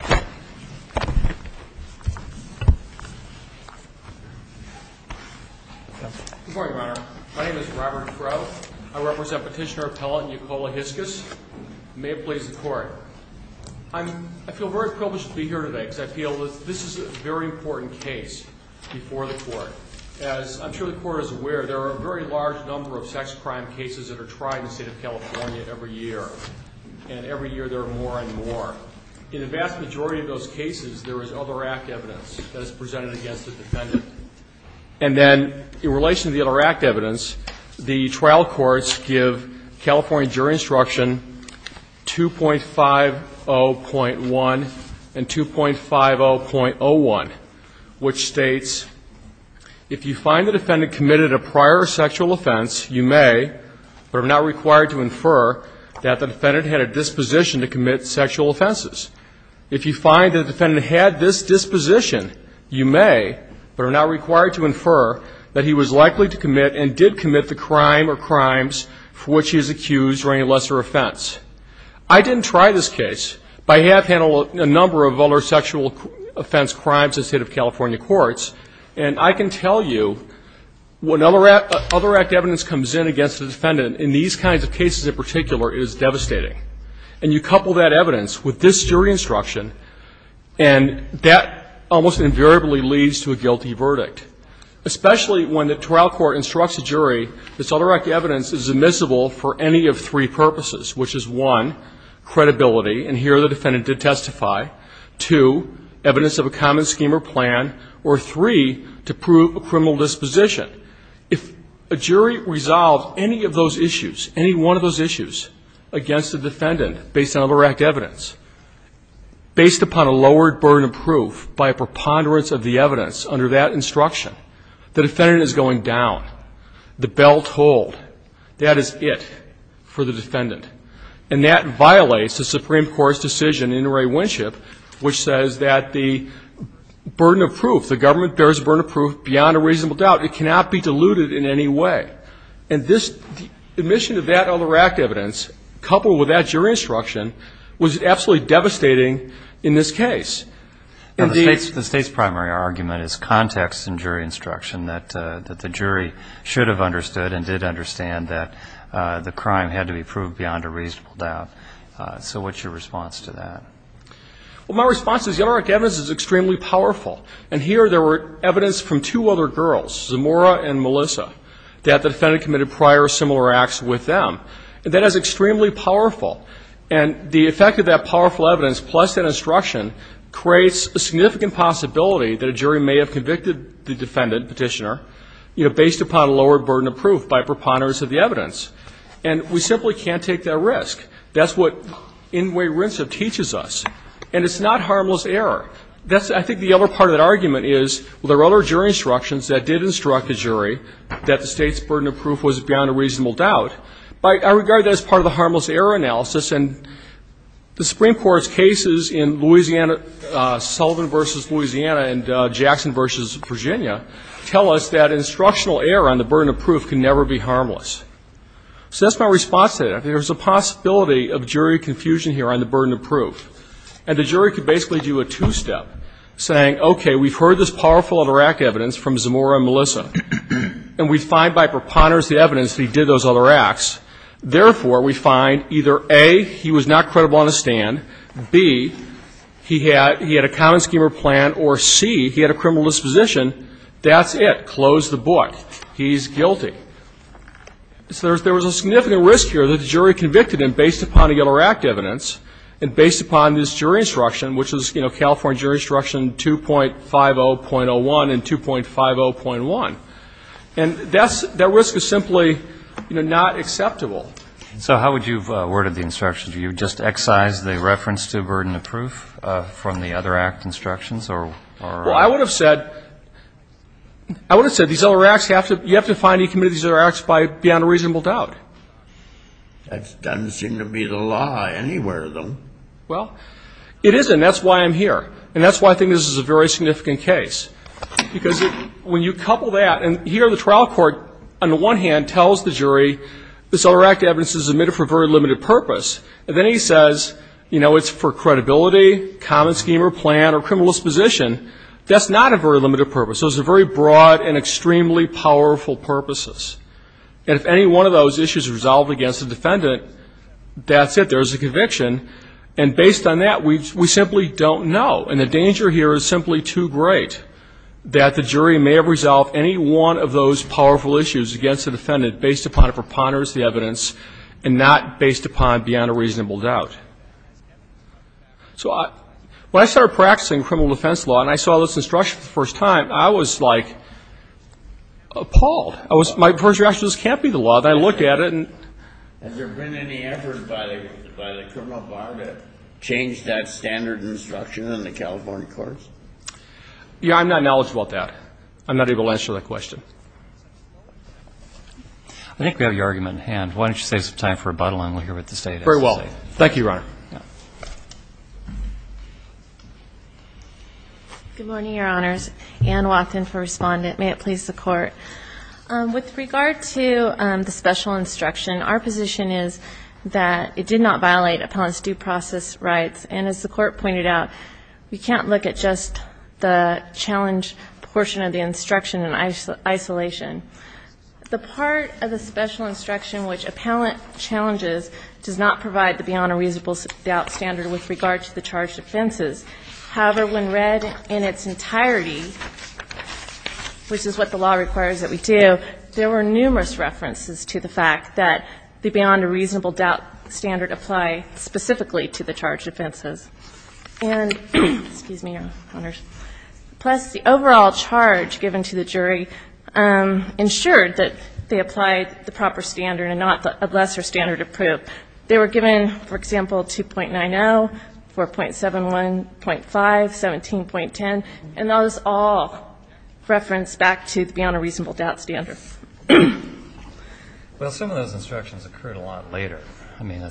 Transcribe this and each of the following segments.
Good morning, Your Honor. My name is Robert Crowe. I represent Petitioner Appellant Yacola Hiskus. May it please the Court. I feel very privileged to be here today because I feel that this is a very important case before the Court. As I'm sure the Court is aware, there are a very large number of sex crime cases that are tried in the state of California every year, and every year there are more and more. In the vast majority of those cases, there is other act evidence that is presented against the defendant. And then, in relation to the other act evidence, the trial courts give California jury instruction 2.50.1 and 2.50.01, which states, if you find the defendant committed a prior sexual offense, you may, but are not required to infer, that the defendant had a disposition to commit sexual offenses. If you find the defendant had this disposition, you may, but are not required to infer, that he was likely to commit and did commit the crime or crimes for which he is accused or any lesser offense. I didn't try this case, but I have handled a number of other sexual offense crimes in the state of California courts, and I can tell you, when other act evidence comes in against the defendant in these kinds of cases in particular, it is devastating. And you couple that evidence with this jury instruction, and that almost invariably leads to a guilty verdict, especially when the trial court instructs the jury that this other act evidence is admissible for any of three purposes, which is, one, credibility, and here the defendant did testify, two, evidence of a common scheme or plan, or three, to prove a criminal disposition. If a jury resolves any of those issues, any one of those issues, against the defendant based on other act evidence, based upon a lowered burden of proof by a preponderance of the evidence under that instruction, the defendant is going down the belt hold. That is it for the defendant. And that violates the Supreme Court's decision in Inouye Winship, which says that the burden of proof, the government bears a burden of proof beyond a reasonable doubt. It cannot be diluted in any way. And this admission of that other act evidence, coupled with that jury instruction, was absolutely devastating in this case. And the State's primary argument is context and jury instruction, that the jury should have understood and did understand that the crime had to be proved beyond a reasonable doubt. So what's your response to that? Well, my response is the other act evidence is extremely powerful. And here there were evidence from two other girls, Zamora and Melissa, that the defendant committed prior similar acts with them. And that is extremely powerful. And the effect of that powerful evidence, plus that instruction, creates a significant possibility that a jury may have convicted the defendant, petitioner, you know, based upon a lowered burden of proof by preponderance of the evidence. And we simply can't take that risk. That's what Inway Winship teaches us. And it's not harmless error. That's, I think, the other part of that argument is, well, there are other jury instructions that did instruct the jury that the State's burden of proof was beyond a reasonable doubt. But I regard that as part of the harmless error analysis. And the Supreme Court's cases in Louisiana, Sullivan v. Louisiana and Jackson v. Virginia, tell us that instructional error on the burden of proof can never be harmless. So that's my response to that. There's a possibility of jury confusion here on the burden of proof. And the jury could basically do a two-step, saying, okay, we've heard this powerful other act evidence from Zamora and Melissa. And we find by preponderance of the evidence that he did those other acts. Therefore, we find either A, he was not credible on the stand, B, he had a common scheme or plan, or C, he had a criminal disposition. That's it. Close the book. He's guilty. So there was a significant risk here. The jury convicted him based upon the other act evidence and based upon this jury instruction, which was, you know, California Jury Instruction 2.50.01 and 2.50.1. And that's the risk is simply, you know, not acceptable. So how would you have worded the instructions? Would you have just excised the reference to burden of proof from the other act instructions or? Well, I would have said, I would have said these other acts have to be, you have to That doesn't seem to be the law anywhere, though. Well, it isn't. That's why I'm here. And that's why I think this is a very significant case. Because when you couple that, and here the trial court, on the one hand, tells the jury, this other act evidence is admitted for a very limited purpose. And then he says, you know, it's for credibility, common scheme or plan or criminal disposition. That's not a very limited purpose. Those are very broad and extremely powerful purposes. And if any one of those issues are resolved against the defendant, that's it. There's a conviction. And based on that, we simply don't know. And the danger here is simply too great that the jury may have resolved any one of those powerful issues against the defendant based upon a preponderance of the evidence and not based upon beyond a reasonable doubt. So when I started practicing criminal defense law and I saw this instruction for the law, I was, my first reaction was, this can't be the law. And I look at it, and... Has there been any effort by the criminal bar to change that standard instruction in the California courts? Yeah, I'm not knowledgeable about that. I'm not able to answer that question. I think we have your argument in hand. Why don't you save some time for rebuttal and we'll hear what the State has to say. Very well. Thank you, Your Honor. Good morning, Your Honors. Anne Watkin for Respondent. May it please the Court. With regard to the special instruction, our position is that it did not violate appellant's due process rights. And as the Court pointed out, we can't look at just the challenge portion of the instruction in isolation. The part of the special instruction which appellant challenges does not provide the beyond a reasonable doubt standard with regard to the charged offenses. However, when read in its entirety, which is what the law requires that we do, there were numerous references to the fact that the beyond a reasonable doubt standard apply specifically to the charged offenses. And, excuse me, Your Honors, plus the overall charge given to the jury ensured that they applied the proper standard and not a lesser standard of proof. But they were given, for example, 2.90, 4.71.5, 17.10, and those all reference back to the beyond a reasonable doubt standard. Well, some of those instructions occurred a lot later. I mean, I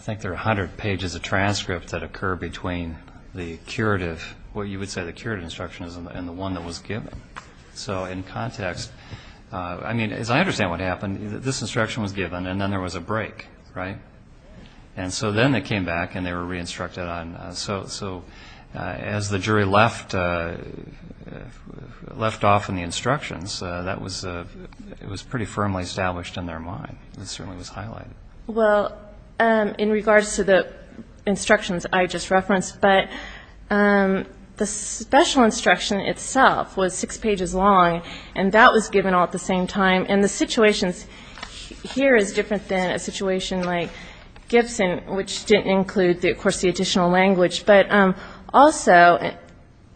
think there are 100 pages of transcripts that occur between the curative, what you would say the curative instruction and the one that was given. So in context, I mean, as I mentioned, it was given all at the same time, right? And so then it came back and they were re-instructed on. So as the jury left off in the instructions, that was pretty firmly established in their mind. It certainly was highlighted. Well, in regards to the instructions I just referenced, but the special instruction itself was six pages long, and that was given all at the same time. And the situations here is different than a situation like Gibson, which didn't include, of course, the additional language. But also,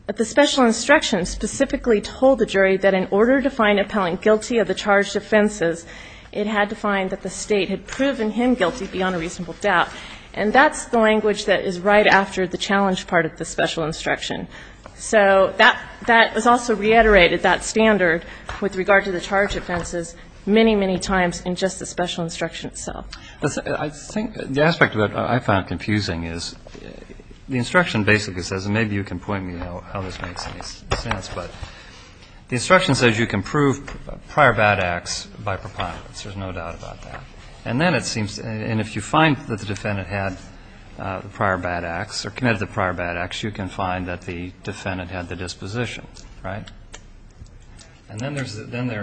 the special instruction specifically told the jury that in order to find an appellant guilty of the charged offenses, it had to find that the State had proven him guilty beyond a reasonable doubt. And that's the language that is right after the challenge part of the special instruction. So that was also reiterated, that standard with regard to the charged offenses, many, many times in just the special instruction itself. I think the aspect that I found confusing is the instruction basically says, and maybe you can point me how this makes any sense, but the instruction says you can prove prior bad acts by preponderance. There's no doubt about that. And then it seems, and if you find that the defendant had the prior bad acts or committed the prior bad acts, you can find that the defendant had the disposition, right? And then there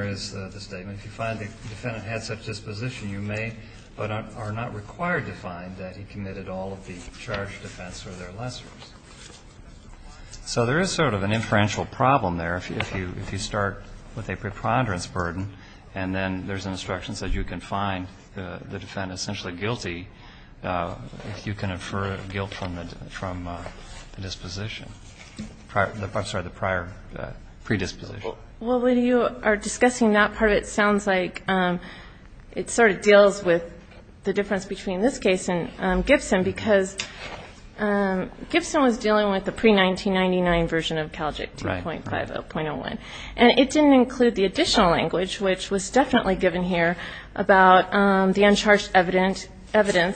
is the statement, if you find the defendant had such disposition, you may but are not required to find that he committed all of the charged offense or their lessors. So there is sort of an inferential problem there if you start with a preponderance burden, and then there's instructions that you can find the disposition, I'm sorry, the prior predisposition. Well, when you are discussing that part, it sounds like it sort of deals with the difference between this case and Gibson, because Gibson was dealing with the pre-1999 version of CALJIC 2.50.01. And it didn't include the additional language, which was definitely given here, about the uncharged evidence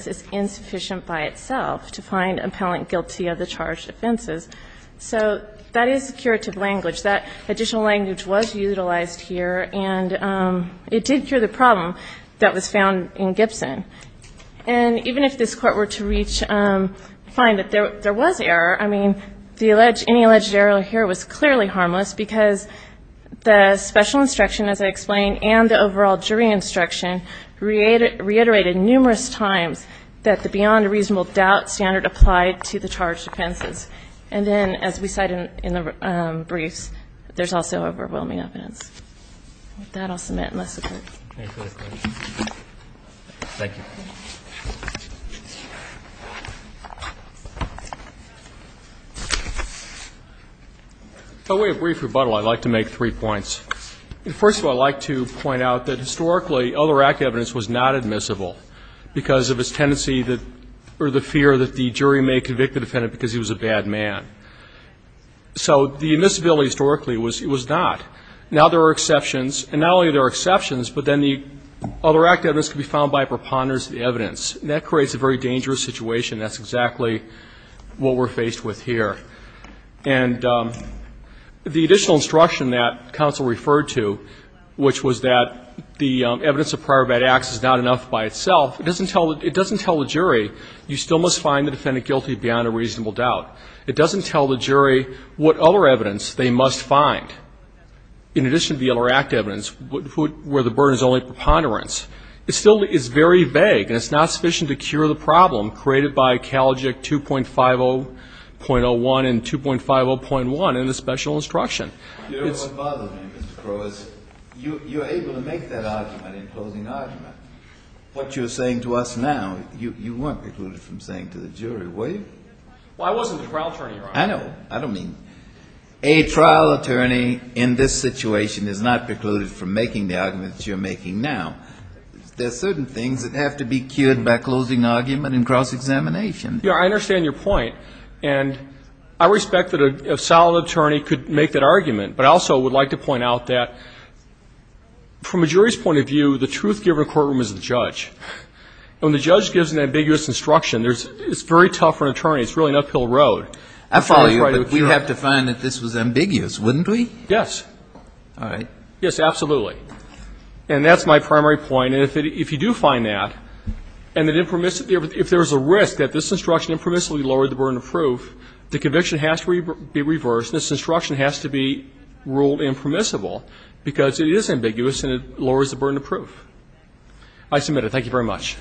is insufficient by itself to find appellant guilty of the charged offenses. So that is curative language. That additional language was utilized here, and it did cure the problem that was found in Gibson. And even if this Court were to reach, find that there was error, I mean, any alleged error here was clearly harmless, because the special instruction, as I explained, and the overall jury instruction reiterated numerous times that the beyond reasonable doubt standard applied to the charged offenses. And then, as we cite in the briefs, there's also overwhelming evidence. With that, I'll submit unless the Court. Thank you. By way of brief rebuttal, I'd like to make three points. First of all, I'd like to point out that historically, other active evidence was not admissible, because of its tendency that, or the fear that the jury may convict the defendant because he was a bad man. So the admissibility historically was not. Now there are exceptions, and not only are there exceptions, but then the other active evidence can be found by a preponderance of the evidence. And that creates a very dangerous situation. That's exactly what we're faced with here. And the additional instruction that counsel referred to, which was that the evidence of prior bad acts is not enough by itself, it doesn't tell the jury, you still must find the defendant guilty beyond a reasonable doubt. It doesn't tell the jury what other evidence they must find, in addition to the other active evidence, where the burden is only preponderance. It still is very vague, and it's not sufficient to cure the problem created by Kalogic 2.50.01 and 2.50.1 in the special instruction. You know what bothers me, Mr. Crowe, is you're able to make that argument in closing argument. What you're saying to us now, you weren't precluded from saying to the jury, were you? Well, I wasn't the trial attorney, Your Honor. I know. I don't mean. A trial attorney in this situation is not precluded from making the arguments you're making now. There are certain things that have to be cured by closing argument and cross-examination. Yeah, I understand your point. And I respect that a solid attorney could make that argument. But I also would like to point out that, from a jury's point of view, the truth-given courtroom is the judge. When the judge gives an ambiguous instruction, it's very tough for an attorney. It's really an uphill road. I follow you, but we'd have to find that this was ambiguous, wouldn't we? Yes. Yes, absolutely. And that's my primary point. And if you do find that, and if there's a risk that this instruction impermissibly lowered the burden of proof, the conviction has to be reversed and this instruction has to be ruled impermissible because it is ambiguous and it lowers the burden of proof. I submit it. Thank you very much.